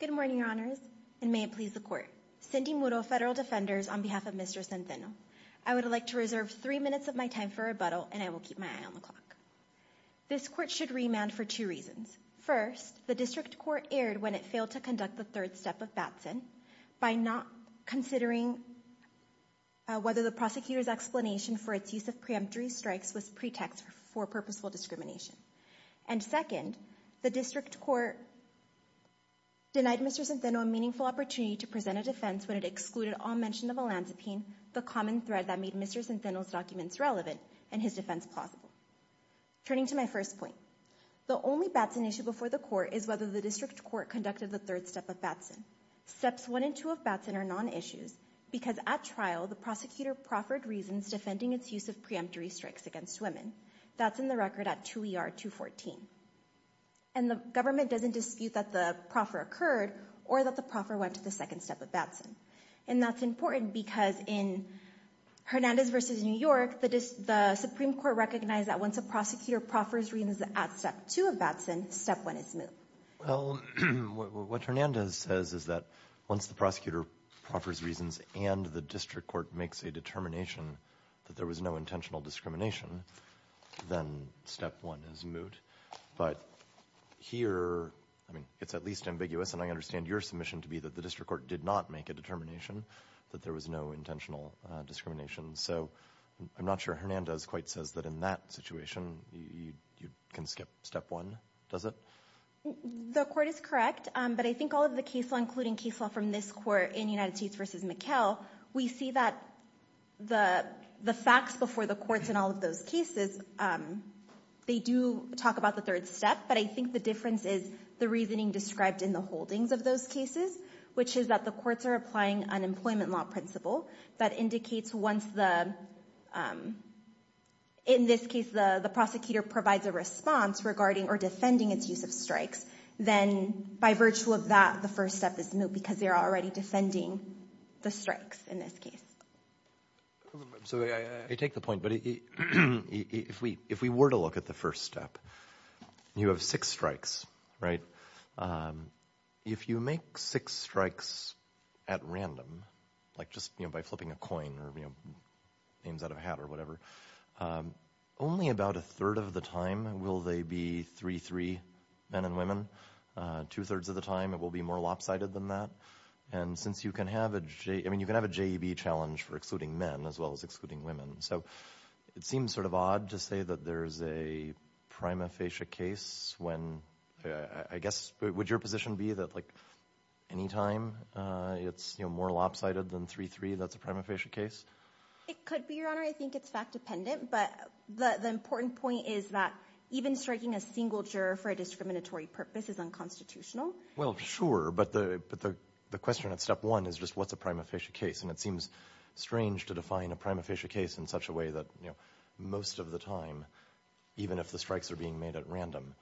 Good morning, Your Honors, and may it please the Court, Cindy Mudo, Federal Defenders, on behalf of Mr. Centeno, I would like to reserve three minutes of my time for rebuttal and I will keep my eye on the clock. This Court should remand for two reasons. First, the District Court erred when it failed to conduct the third step of Batson by not considering whether the prosecutor's explanation for its use of preemptory strikes was pretext for purposeful discrimination. And second, the District Court denied Mr. Centeno a meaningful opportunity to present a defense when it excluded all mention of Olanzapine, the common thread that made Mr. Centeno's documents relevant and his defense plausible. Turning to my first point, the only Batson issue before the Court is whether the District Court conducted the third step of Batson. Steps 1 and 2 of Batson are non-issues because at trial, the prosecutor proffered reasons defending its use of preemptory strikes against women. That's in the record at 2 ER 214. And the government doesn't dispute that the proffer occurred or that the proffer went to the second step of Batson. And that's important because in Hernandez v. New York, the Supreme Court recognized that once a prosecutor proffers reasons at step 2 of Batson, step 1 is moot. Well, what Hernandez says is that once the prosecutor proffers reasons and the District Court makes a determination that there was no intentional discrimination, then step 1 is moot. But here, I mean, it's at least ambiguous, and I understand your submission to be that the District Court did not make a determination that there was no intentional discrimination. So I'm not sure Hernandez quite says that in that situation, you can skip step 1, does it? The Court is correct, but I think all of the case law, including case law from this Court in United States v. McHale, we see that the facts before the courts in all of those cases, they do talk about the third step, but I think the difference is the reasoning described in the holdings of those cases, which is that the courts are applying an employment law principle that indicates once the, in this case, the prosecutor provides a response regarding or defending its use of strikes, then by virtue of that, the first step is moot because they're already defending the strikes in this case. So I take the point, but if we were to look at the first step, you have six strikes, right? If you make six strikes at random, like just by flipping a coin or names out of a hat or whatever, only about a third of the time will they be 3-3 men and women, two-thirds of the time it will be more lopsided than that, and since you can have a JEB challenge for excluding men as well as excluding women, so it seems sort of odd to say that there's a prima facie case when, I guess, would your position be that any time it's more lopsided than 3-3, that's a prima facie case? It could be, Your Honor, I think it's fact-dependent, but the important point is that even striking a single juror for a discriminatory purpose is unconstitutional. Well, sure, but the question at step one is just what's a prima facie case, and it seems strange to define a prima facie case in such a way that most of the time, even if the strikes are being made at random,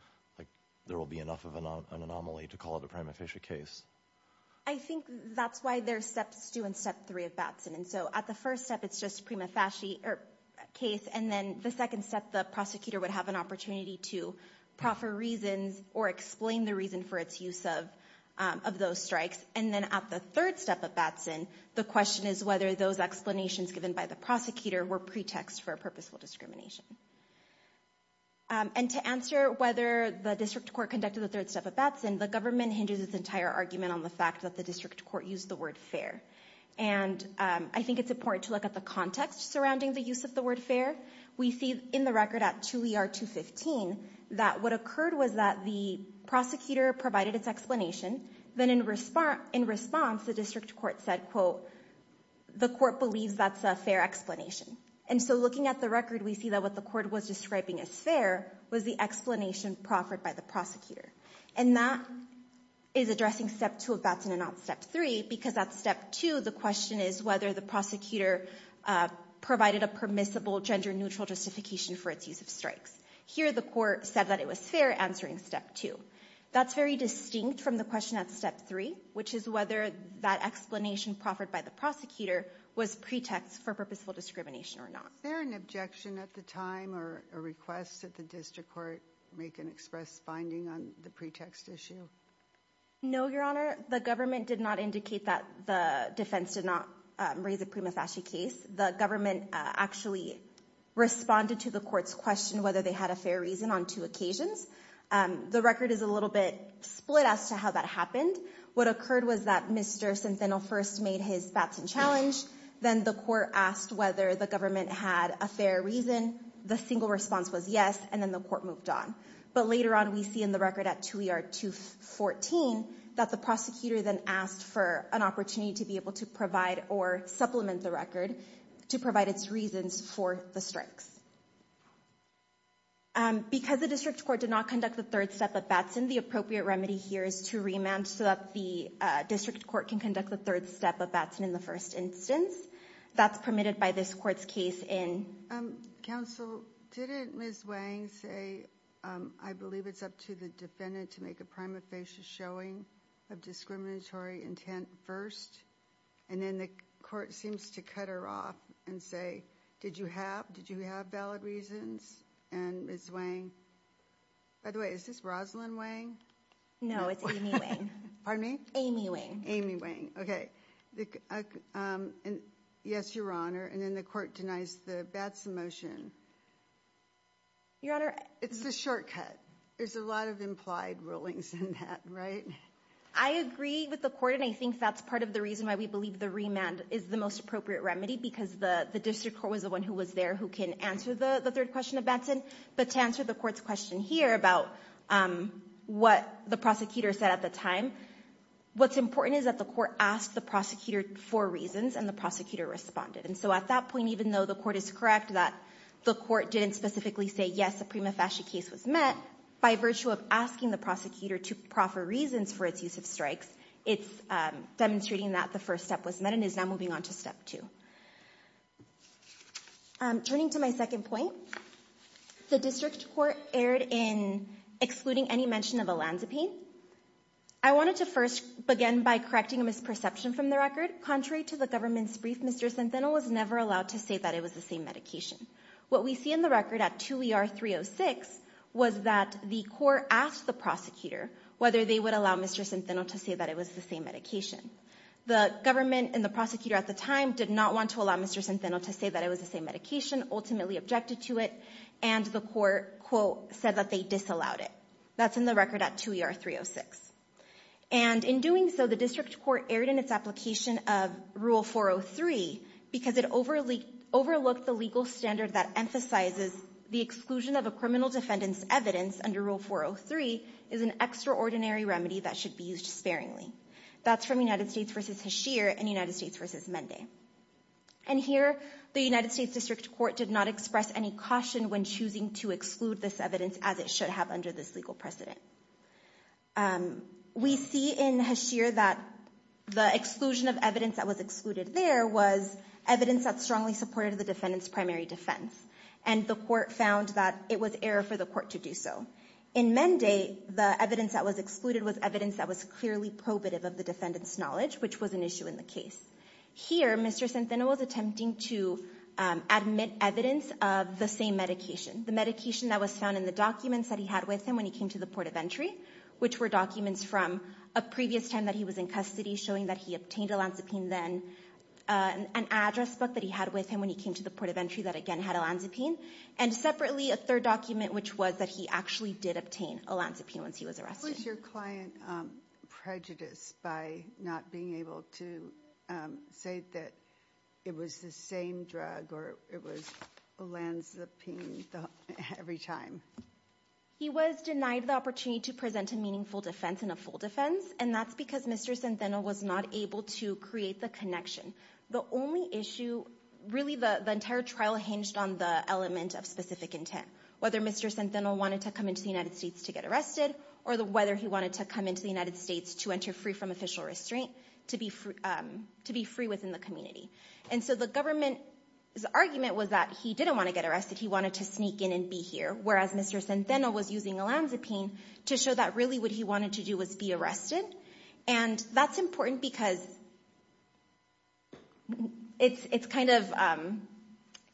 there will be enough of an anomaly to call it a prima facie case. I think that's why there's steps two and step three of Batson, and so at the first step, it's just prima facie case, and then the second step, the prosecutor would have an opportunity to proffer reasons or explain the reason for its use of those strikes, and then at the third step of Batson, the question is whether those explanations given by the prosecutor were pretexts for purposeful discrimination. And to answer whether the district court conducted the third step at Batson, the government hinges its entire argument on the fact that the district court used the word fair, and I think it's important to look at the context surrounding the use of the word fair. We see in the record at 2ER215 that what occurred was that the prosecutor provided its explanation, then in response, the district court said, quote, the court believes that's a fair explanation. And so looking at the record, we see that what the court was describing as fair was the explanation proffered by the prosecutor. And that is addressing step two of Batson and not step three, because at step two, the question is whether the prosecutor provided a permissible gender-neutral justification for its use of strikes. Here the court said that it was fair, answering step two. That's very distinct from the question at step three, which is whether that explanation proffered by the prosecutor was pretext for purposeful discrimination or not. Is there an objection at the time or a request that the district court make an express finding on the pretext issue? No, Your Honor. The government did not indicate that the defense did not raise a prima facie case. The government actually responded to the court's question whether they had a fair reason on two occasions. The record is a little bit split as to how that happened. What occurred was that Mr. Centeno first made his Batson challenge, then the court asked whether the government had a fair reason. The single response was yes, and then the court moved on. But later on, we see in the record at 2ER214 that the prosecutor then asked for an opportunity to be able to provide or supplement the record to provide its reasons for the strikes. Because the district court did not conduct the third step of Batson, the appropriate remedy here is to remand so that the district court can conduct the third step of Batson in the first instance. That's permitted by this court's case in... Counsel, didn't Ms. Wang say, I believe it's up to the defendant to make a prima facie showing of discriminatory intent first, and then the court seems to cut her off and say, did you have valid reasons? And Ms. Wang, by the way, is this Rosalyn Wang? No, it's Amy Wang. Pardon me? Amy Wang. Amy Wang, okay. Yes, Your Honor. And then the court denies the Batson motion. Your Honor... It's a shortcut. There's a lot of implied rulings in that, right? I agree with the court, and I think that's part of the reason why we believe the remand is the most appropriate remedy, because the district court was the one who was there who can answer the third question of Batson. But to answer the court's question here about what the prosecutor said at the time, what's important is that the court asked the prosecutor for reasons, and the prosecutor responded. And so at that point, even though the court is correct that the court didn't specifically say, yes, a prima facie case was met, by virtue of asking the prosecutor to proffer reasons for its use of strikes, it's demonstrating that the first step was met and is now moving on to step two. Turning to my second point, the district court erred in excluding any mention of Olanzapain. I wanted to first begin by correcting a misperception from the record. Contrary to the government's brief, Mr. Santeno was never allowed to say that it was the same medication. What we see in the record at 2 ER 306 was that the court asked the prosecutor whether they would allow Mr. Santeno to say that it was the same medication. The government and the prosecutor at the time did not want to allow Mr. Santeno to say that it was the same medication, ultimately objected to it, and the court, quote, said that they disallowed it. That's in the record at 2 ER 306. And in doing so, the district court erred in its application of Rule 403 because it overlooked the legal standard that emphasizes the exclusion of a criminal defendant's evidence under Rule 403 is an extraordinary remedy that should be used sparingly. That's from United States v. Hashir and United States v. Mende. And here, the United States district court did not express any caution when choosing to exclude this evidence as it should have under this legal precedent. We see in Hashir that the exclusion of evidence that was excluded there was evidence that strongly supported the defendant's primary defense, and the court found that it was fair for the court to do so. In Mende, the evidence that was excluded was evidence that was clearly probative of the defendant's knowledge, which was an issue in the case. Here, Mr. Santeno was attempting to admit evidence of the same medication, the medication that was found in the documents that he had with him when he came to the port of entry, which were documents from a previous time that he was in custody showing that he obtained a lansipine then, an address book that he had with him when he came to the port of entry that, again, had a lansipine. And separately, a third document, which was that he actually did obtain a lansipine once he was arrested. Was your client prejudiced by not being able to say that it was the same drug or it was a lansipine every time? He was denied the opportunity to present a meaningful defense and a full defense, and that's because Mr. Santeno was not able to create the connection. The only issue, really, the entire trial hinged on the element of specific intent, whether Mr. Santeno wanted to come into the United States to get arrested or whether he wanted to come into the United States to enter free from official restraint, to be free within the community. And so the government's argument was that he didn't want to get arrested. He wanted to sneak in and be here, whereas Mr. Santeno was using a lansipine to show that really what he wanted to do was be arrested. And that's important because it's kind of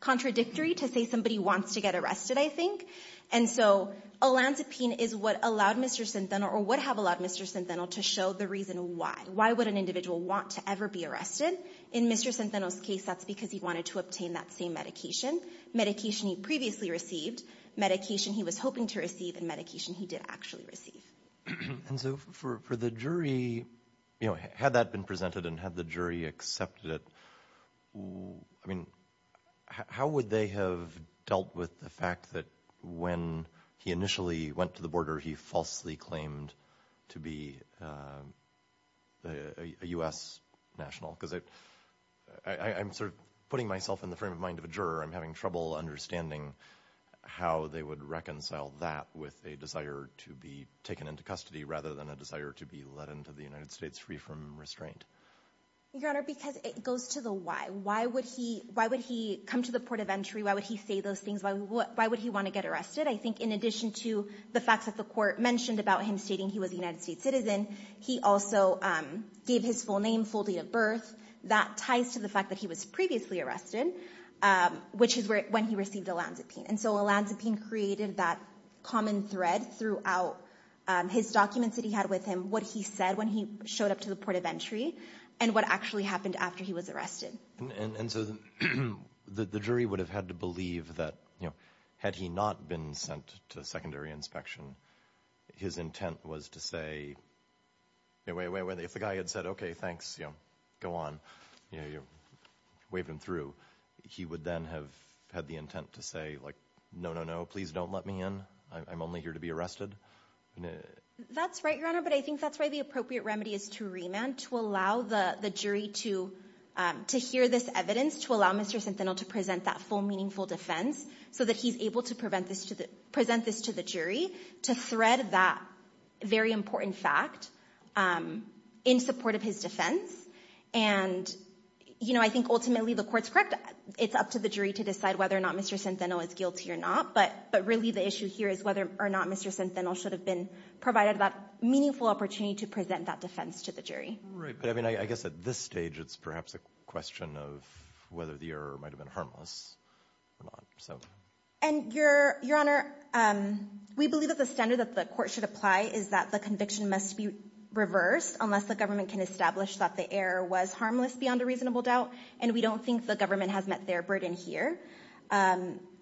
contradictory to say somebody wants to get arrested, I think. And so a lansipine is what allowed Mr. Santeno or would have allowed Mr. Santeno to show the reason why. Why would an individual want to ever be arrested? In Mr. Santeno's case, that's because he wanted to obtain that same medication. Medication he previously received, medication he was hoping to receive, and medication he did actually receive. And so for the jury, you know, had that been presented and had the jury accepted it, I mean, how would they have dealt with the fact that when he initially went to the border, he falsely claimed to be a U.S. national? Because I'm sort of putting myself in the frame of mind of a juror. I'm having trouble understanding how they would reconcile that with a desire to be taken into custody rather than a desire to be let into the United States free from restraint. Your Honor, because it goes to the why. Why would he come to the port of entry? Why would he say those things? Why would he want to get arrested? I think in addition to the facts that the Court mentioned about him stating he was a United States citizen, he also gave his full name, full date of birth. That ties to the fact that he was previously arrested, which is when he received Olanzapine. And so Olanzapine created that common thread throughout his documents that he had with him, what he said when he showed up to the port of entry, and what actually happened after he was arrested. And so the jury would have had to believe that, you know, had he not been sent to secondary inspection, his intent was to say, wait, wait, wait, if the guy had said, okay, thanks, you go on, you know, you waved him through, he would then have had the intent to say, like, no, no, no, please don't let me in. I'm only here to be arrested. That's right, Your Honor. But I think that's why the appropriate remedy is to remand, to allow the jury to hear this evidence, to allow Mr. Centennial to present that full, meaningful defense so that he's able to present this to the jury, to thread that very important fact in support of his defense. And, you know, I think ultimately the court's correct. It's up to the jury to decide whether or not Mr. Centennial is guilty or not. But really, the issue here is whether or not Mr. Centennial should have been provided that meaningful opportunity to present that defense to the jury. Right. But I mean, I guess at this stage, it's perhaps a question of whether the error might have been harmless or not, so. And Your Honor, we believe that the standard that the court should apply is that the conviction must be reversed unless the government can establish that the error was harmless beyond a reasonable doubt. And we don't think the government has met their burden here.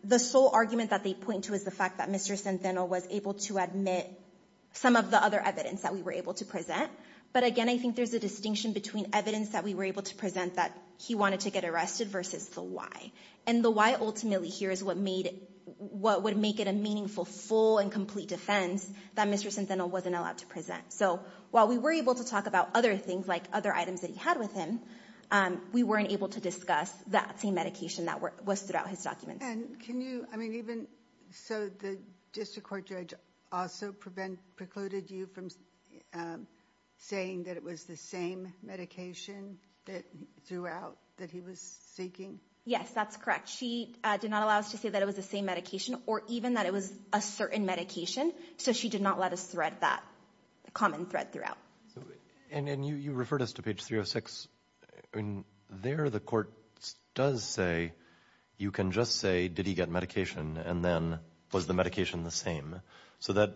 The sole argument that they point to is the fact that Mr. Centennial was able to admit some of the other evidence that we were able to present. But again, I think there's a distinction between evidence that we were able to present that he wanted to get arrested versus the why. And the why ultimately here is what made it, what would make it a meaningful, full and complete defense that Mr. Centennial wasn't allowed to present. So while we were able to talk about other things, like other items that he had with him, we weren't able to discuss that same medication that was throughout his documents. And can you, I mean, even, so the district court judge also prevent, precluded you from saying that it was the same medication that, throughout, that he was seeking? Yes, that's correct. She did not allow us to say that it was the same medication or even that it was a certain medication. So she did not let us thread that common thread throughout. So, and you referred us to page 306. I mean, there the court does say, you can just say, did he get medication and then was the medication the same? So that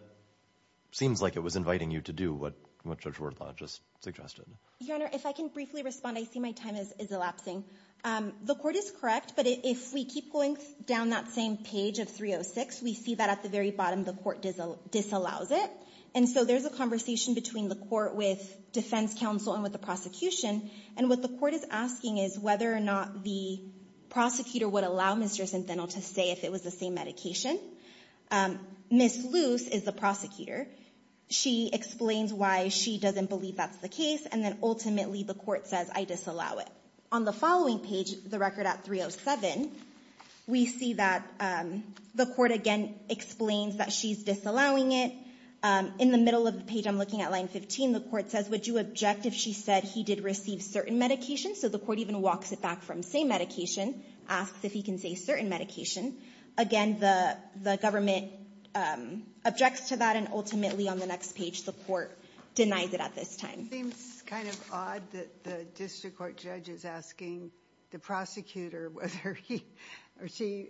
seems like it was inviting you to do what Judge Wardlaw just suggested. Your Honor, if I can briefly respond, I see my time is elapsing. The court is correct, but if we keep going down that same page of 306, we see that the very bottom, the court disallows it. And so there's a conversation between the court with defense counsel and with the prosecution. And what the court is asking is whether or not the prosecutor would allow Mr. Centeno to say if it was the same medication. Ms. Luce is the prosecutor. She explains why she doesn't believe that's the case. And then ultimately the court says, I disallow it. On the following page, the record at 307, we see that the court again explains that she's disallowing it. In the middle of the page, I'm looking at line 15, the court says, would you object if she said he did receive certain medication? So the court even walks it back from say medication, asks if he can say certain medication. Again, the government objects to that. And ultimately on the next page, the court denies it at this time. Seems kind of odd that the district court judge is asking the prosecutor whether he or she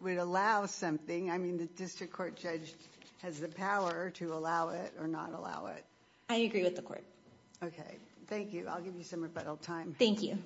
would allow something. I mean, the district court judge has the power to allow it or not allow it. I agree with the court. Okay. Thank you. I'll give you some rebuttal time. Thank you.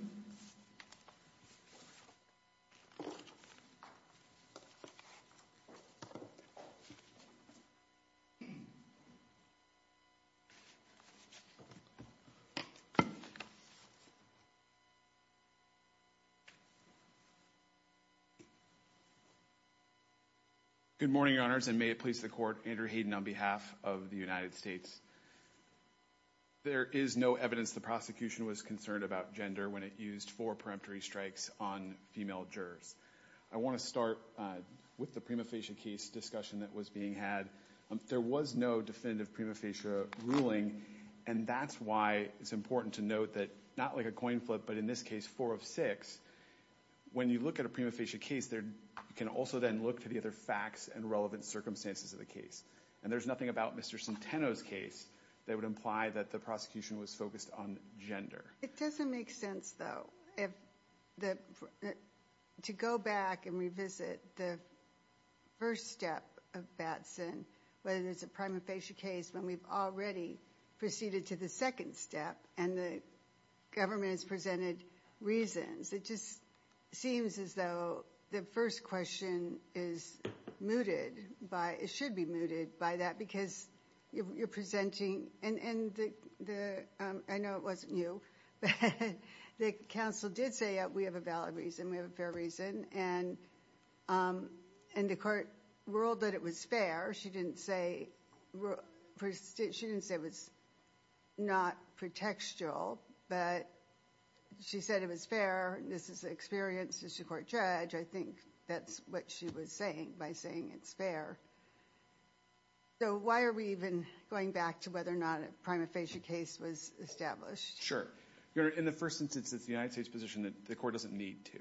Good morning, your honors. And may it please the court, Andrew Hayden on behalf of the United States. There is no evidence the prosecution was concerned about gender when it used four peremptory strikes on female jurors. I want to start with the prima facie case discussion that was being had. There was no definitive prima facie ruling, and that's why it's important to note that not like a coin flip, but in this case, four of six. When you look at a prima facie case, you can also then look to the other facts and relevant circumstances of the case. And there's nothing about Mr. Centeno's case that would imply that the prosecution was focused on gender. It doesn't make sense, though, to go back and revisit the first step of Batson, whether there's a prima facie case when we've already proceeded to the second step and the government has presented reasons. It just seems as though the first question is mooted by, it should be mooted by that because you're presenting, and I know it wasn't you, but the counsel did say that we have a valid reason, we have a fair reason, and the court ruled that it was fair. She didn't say it was not pretextual, but she said it was fair. This is the experience as a court judge. I think that's what she was saying by saying it's fair. So why are we even going back to whether or not a prima facie case was established? Sure. Your Honor, in the first instance, it's the United States' position that the court doesn't need to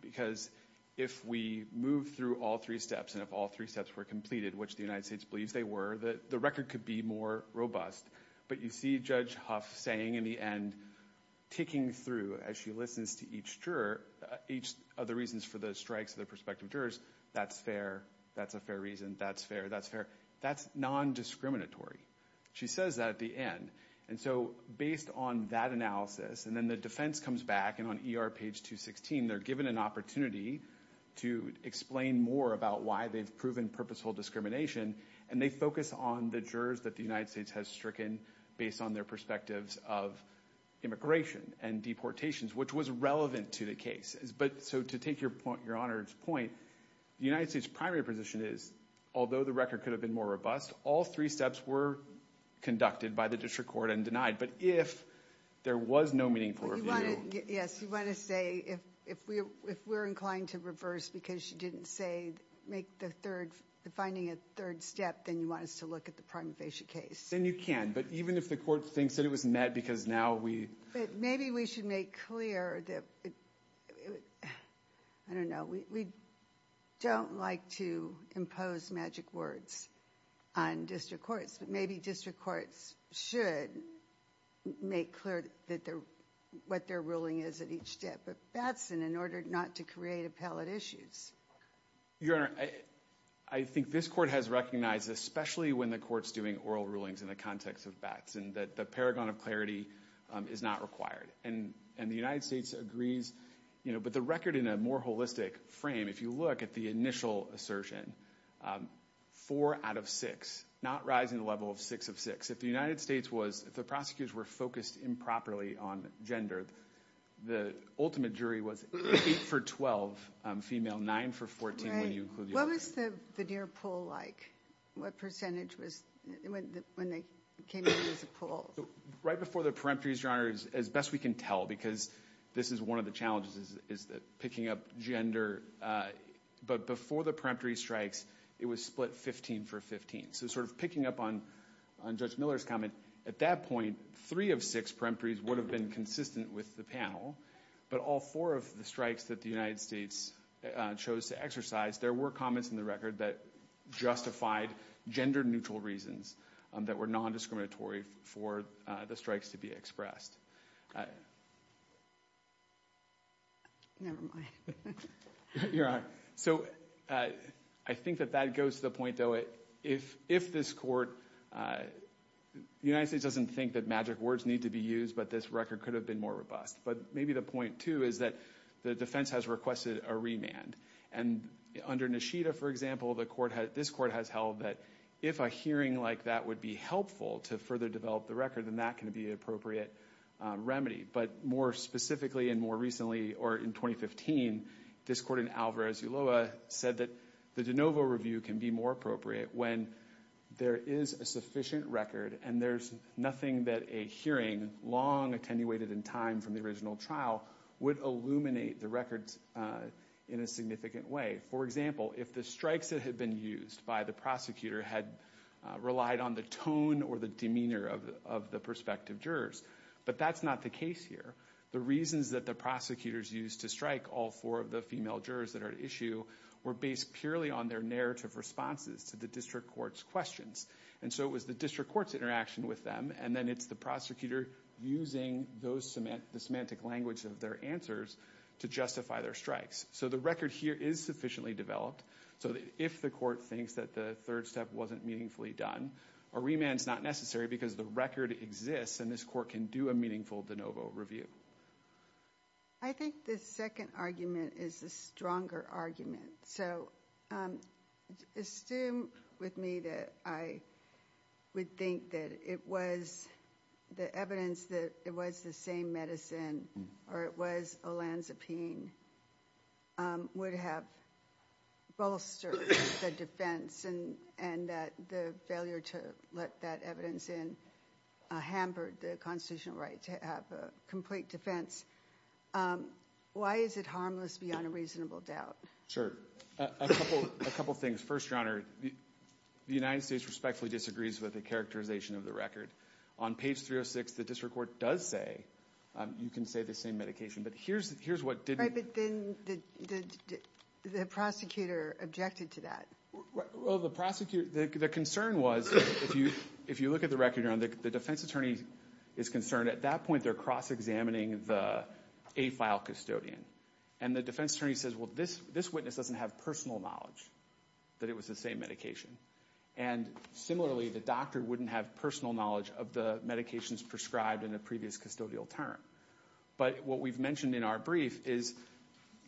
because if we move through all three steps and if all three steps were completed, which the United States believes they were, the record could be more robust. But you see Judge Huff saying in the end, ticking through as she listens to each other for the strikes of the prospective jurors, that's fair, that's a fair reason, that's fair, that's non-discriminatory. She says that at the end. And so based on that analysis, and then the defense comes back, and on ER page 216, they're given an opportunity to explain more about why they've proven purposeful discrimination, and they focus on the jurors that the United States has stricken based on their perspectives of immigration and deportations, which was relevant to the case. So to take Your Honor's point, the United States' primary position is, although the record could have been more robust, all three steps were conducted by the district court and denied. But if there was no meaningful review... Yes, you want to say if we're inclined to reverse because she didn't say make the third, finding a third step, then you want us to look at the prima facie case. Then you can. But even if the court thinks that it was met because now we... Maybe we should make clear that... I don't know. We don't like to impose magic words on district courts, but maybe district courts should make clear what their ruling is at each step. But that's in order not to create appellate issues. Your Honor, I think this court has recognized, especially when the court's doing oral rulings in the context of BATS, and that the paragon of clarity is not required. And the United States agrees. But the record in a more holistic frame, if you look at the initial assertion, four out of six, not rising the level of six of six. If the United States was... If the prosecutors were focused improperly on gender, the ultimate jury was eight for 12, female nine for 14 when you include... What was the veneer pool like? What percentage was when they came in as a pool? Right before the peremptories, Your Honor, as best we can tell, because this is one of the challenges, is picking up gender. But before the peremptory strikes, it was split 15 for 15. So sort of picking up on Judge Miller's comment, at that point, three of six peremptories would have been consistent with the panel. But all four of the strikes that the United States chose to exercise, there were comments in the record that justified gender neutral reasons that were non-discriminatory for the strikes to be expressed. Never mind. Your Honor, so I think that that goes to the point, though, if this court... The United States doesn't think that magic words need to be used, but this record could have been more robust. But maybe the point, too, is that the defense has requested a remand. And under Nishida, for example, this court has held that if a hearing like that would be helpful to further develop the record, then that can be an appropriate remedy. But more specifically, and more recently, or in 2015, this court in Alvarez-Uloa said that the de novo review can be more appropriate when there is a sufficient record and there's nothing that a hearing, long attenuated in time from the original trial, would illuminate the records in a significant way. For example, if the strikes that had been used by the prosecutor had relied on the tone or the demeanor of the prospective jurors, but that's not the case here. The reasons that the prosecutors used to strike all four of the female jurors that are at issue were based purely on their narrative responses to the district court's questions. And so it was the district court's interaction with them, and then it's the prosecutor using the semantic language of their answers to justify their strikes. So the record here is sufficiently developed. So if the court thinks that the third step wasn't meaningfully done, a remand's not necessary because the record exists and this court can do a meaningful de novo review. I think the second argument is a stronger argument. So assume with me that I would think that it was the evidence that it was the same medicine or it was Olanzapine would have bolstered the defense and that the failure to let that evidence in hampered the constitutional right to have a complete defense. Why is it harmless beyond a reasonable doubt? Sure. A couple things. First, Your Honor, the United States respectfully disagrees with the characterization of the record. On page 306, the district court does say you can say the same medication. But here's what didn't. Right, but then the prosecutor objected to that. Well, the prosecutor, the concern was if you look at the record, Your Honor, the defense attorney is concerned. At that point, they're cross-examining the AFILE custodian. And the defense attorney says, well, this witness doesn't have personal knowledge that it was the same medication. And similarly, the doctor wouldn't have personal knowledge of the medications prescribed in a previous custodial term. But what we've mentioned in our brief is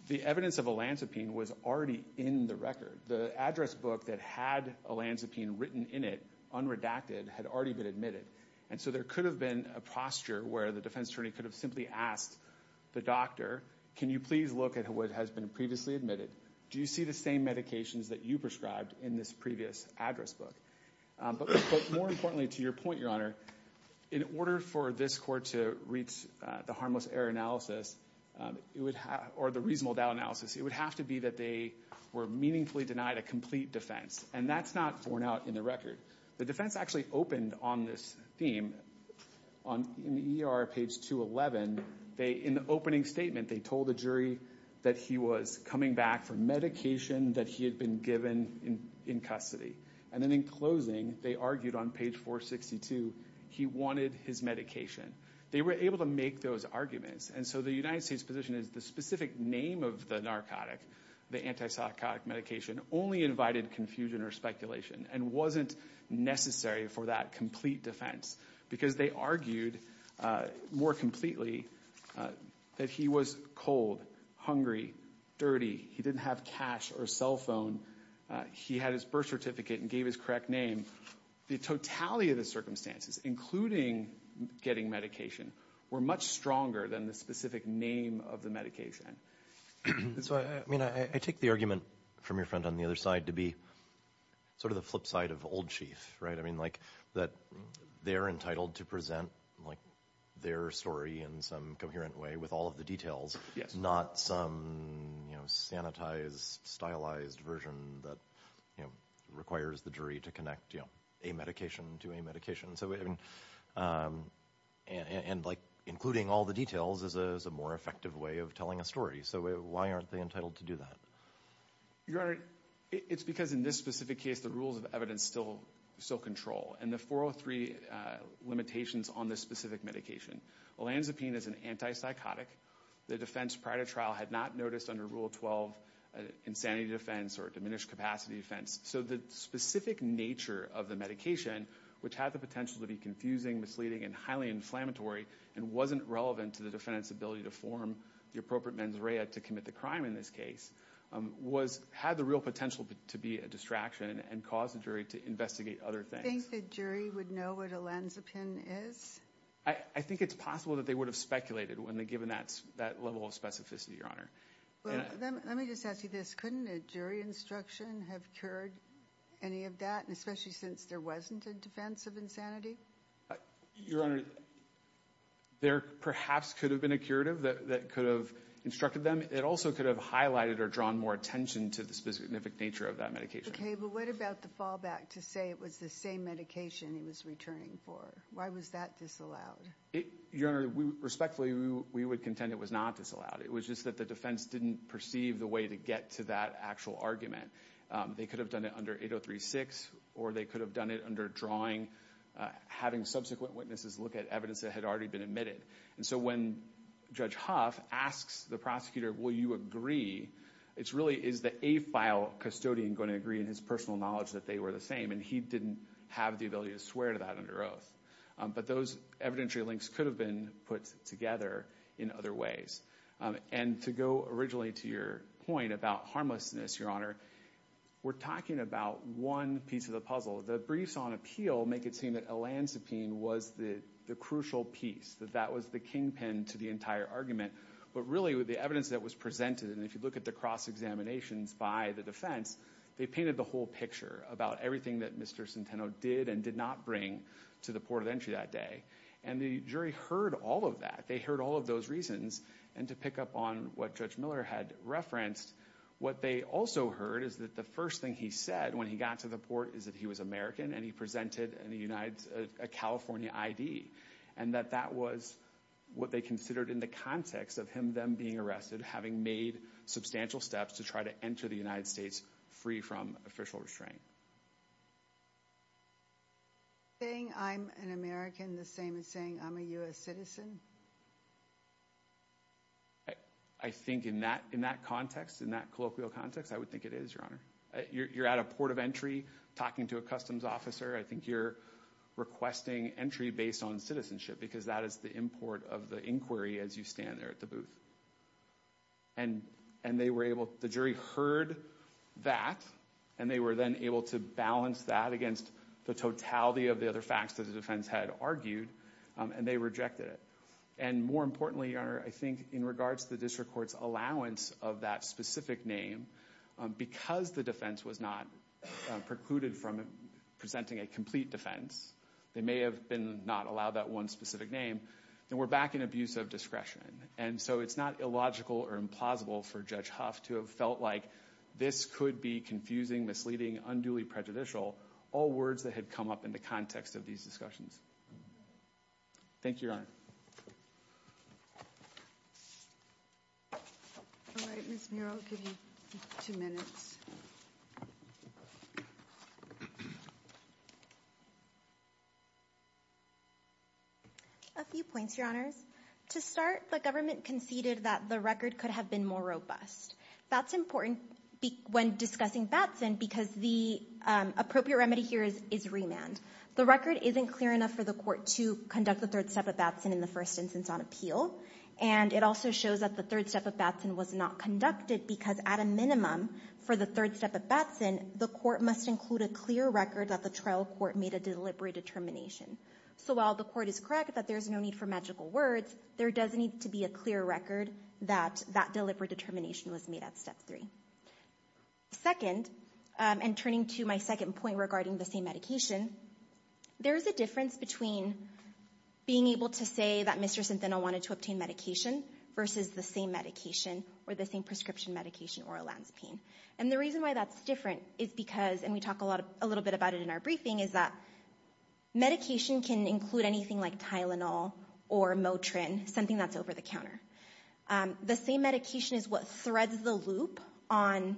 the evidence of Olanzapine was already in the record. The address book that had Olanzapine written in it, unredacted, had already been admitted. And so there could have been a posture where the defense attorney could have simply asked the doctor, can you please look at what has been previously admitted? Do you see the same medications that you prescribed in this previous address book? But more importantly, to your point, Your Honor, in order for this court to reach the harmless error analysis, or the reasonable doubt analysis, it would have to be that they were meaningfully denied a complete defense. And that's not borne out in the record. The defense actually opened on this theme. On ER page 211, in the opening statement, they told the jury that he was coming back for medication that he had been given in custody. And then in closing, they argued on page 462, he wanted his medication. They were able to make those arguments. And so the United States position is the specific name of the narcotic, the antipsychotic medication, only invited confusion or speculation and wasn't necessary for that complete defense. Because they argued more completely that he was cold, hungry, dirty. He didn't have cash or cell phone. He had his birth certificate and gave his correct name. The totality of the circumstances, including getting medication, were much stronger than the specific name of the medication. So I mean, I take the argument from your friend on the other side to be sort of the flip side of old chief, right? I mean, like, that they're entitled to present, like, their story in some coherent way with all of the details, not some, you know, sanitized, stylized version that requires the jury to connect a medication to a medication. So, I mean, and like, including all the details is a more effective way of telling a story. So why aren't they entitled to do that? Your Honor, it's because in this specific case, the rules of evidence still control. And the 403 limitations on this specific medication. Olanzapine is an antipsychotic. The defense prior to trial had not noticed under Rule 12 insanity defense or diminished capacity defense. So the specific nature of the medication, which had the potential to be confusing, misleading, and highly inflammatory, and wasn't relevant to the defense's ability to form the appropriate mens rea to commit the crime in this case, had the real potential to be a distraction and cause the jury to investigate other things. Do you think the jury would know what Olanzapine is? I think it's possible that they would have speculated when given that level of specificity, Let me just ask you this. Couldn't a jury instruction have cured any of that? And especially since there wasn't a defense of insanity? Your Honor, there perhaps could have been a curative that could have instructed them. It also could have highlighted or drawn more attention to the specific nature of that medication. OK, but what about the fallback to say it was the same medication he was returning for? Why was that disallowed? Your Honor, respectfully, we would contend it was not disallowed. It was just that the defense didn't perceive the way to get to that actual argument. They could have done it under 8036, or they could have done it under drawing, having subsequent witnesses look at evidence that had already been admitted. And so when Judge Huff asks the prosecutor, will you agree? It really is the AFILE custodian going to agree in his personal knowledge that they were the same, and he didn't have the ability to swear to that under oath. But those evidentiary links could have been put together in other ways. And to go originally to your point about harmlessness, Your Honor, we're talking about one piece of the puzzle. The briefs on appeal make it seem that elansepine was the crucial piece, that that was the kingpin to the entire argument. But really, with the evidence that was presented, and if you look at the cross-examinations by the defense, they painted the whole picture about everything that Mr. Centeno did and did not bring to the port of entry that day. And the jury heard all of that. They heard all of those reasons. And to pick up on what Judge Miller had referenced, what they also heard is that the first thing he said when he got to the port is that he was American and he presented a California ID. And that that was what they considered in the context of him, them being arrested, having made substantial steps to try to enter the United States free from official restraint. Saying I'm an American the same as saying I'm a U.S. citizen? I think in that context, in that colloquial context, I would think it is, Your Honor. You're at a port of entry talking to a customs officer. I think you're requesting entry based on citizenship because that is the import of the inquiry as you stand there at the booth. And they were able, the jury heard that, and they were then able to balance that against the totality of the other facts that the defense had argued, and they rejected it. And more importantly, Your Honor, I think in regards to the district court's allowance of that specific name, because the defense was not precluded from presenting a complete defense, they may have been not allowed that one specific name, they were back in abusive discretion. And so it's not illogical or implausible for Judge Huff to have felt like this could be confusing, misleading, unduly prejudicial, all words that had come up in the context of these discussions. Thank you, Your Honor. All right, Ms. Murrow, I'll give you two minutes. A few points, Your Honors. To start, the government conceded that the record could have been more robust. That's important when discussing Batson, because the appropriate remedy here is remand. The record isn't clear enough for the court to conduct the third step of Batson in the first instance on appeal. And it also shows that the third step of Batson was not conducted, because at a minimum, for the third step of Batson, the court must include a clear record that the trial court made a deliberate determination. So while the court is correct that there's no need for magical words, there does need to be a clear record that that deliberate determination was made at step three. Second, and turning to my second point regarding the same medication, there's a difference between being able to say that Mr. Sinthenil wanted to obtain medication versus the same medication or the same prescription medication, oral lansipine. And the reason why that's different is because, and we talk a little bit about it in our briefing, is that medication can include anything like Tylenol or Motrin, something that's over-the-counter. The same medication is what threads the loop on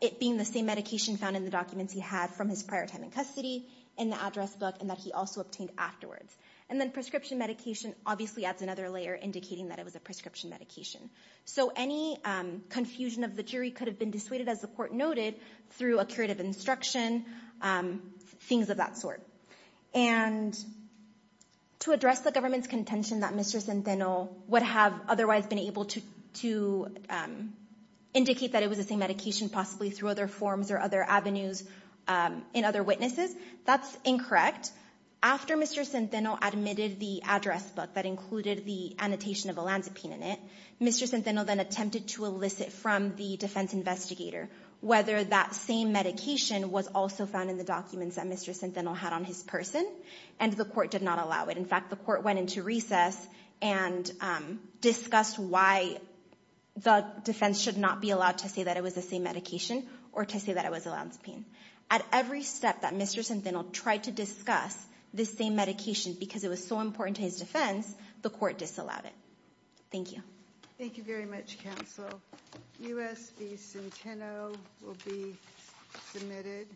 it being the same medication found in the documents he had from his prior time in custody, in the address book, and that he also obtained afterwards. And then prescription medication obviously adds another layer indicating that it was a prescription medication. So any confusion of the jury could have been dissuaded, as the court noted, through a curative instruction, things of that sort. And to address the government's contention that Mr. Sinthenil would have otherwise been able to indicate that it was the same medication, possibly through other forms or other avenues in other witnesses, that's incorrect. After Mr. Sinthenil admitted the address book that included the annotation of lansipine in it, Mr. Sinthenil then attempted to elicit from the defense investigator whether that same medication was also found in the documents that Mr. Sinthenil had on his person, and the court did not allow it. In fact, the court went into recess and discussed why the defense should not be allowed to say that it was the same medication or to say that it was lansipine. At every step that Mr. Sinthenil tried to discuss this same medication, because it was so important to his defense, the court disallowed it. Thank you. Thank you very much, counsel. U.S. v. Sinthenil will be submitted.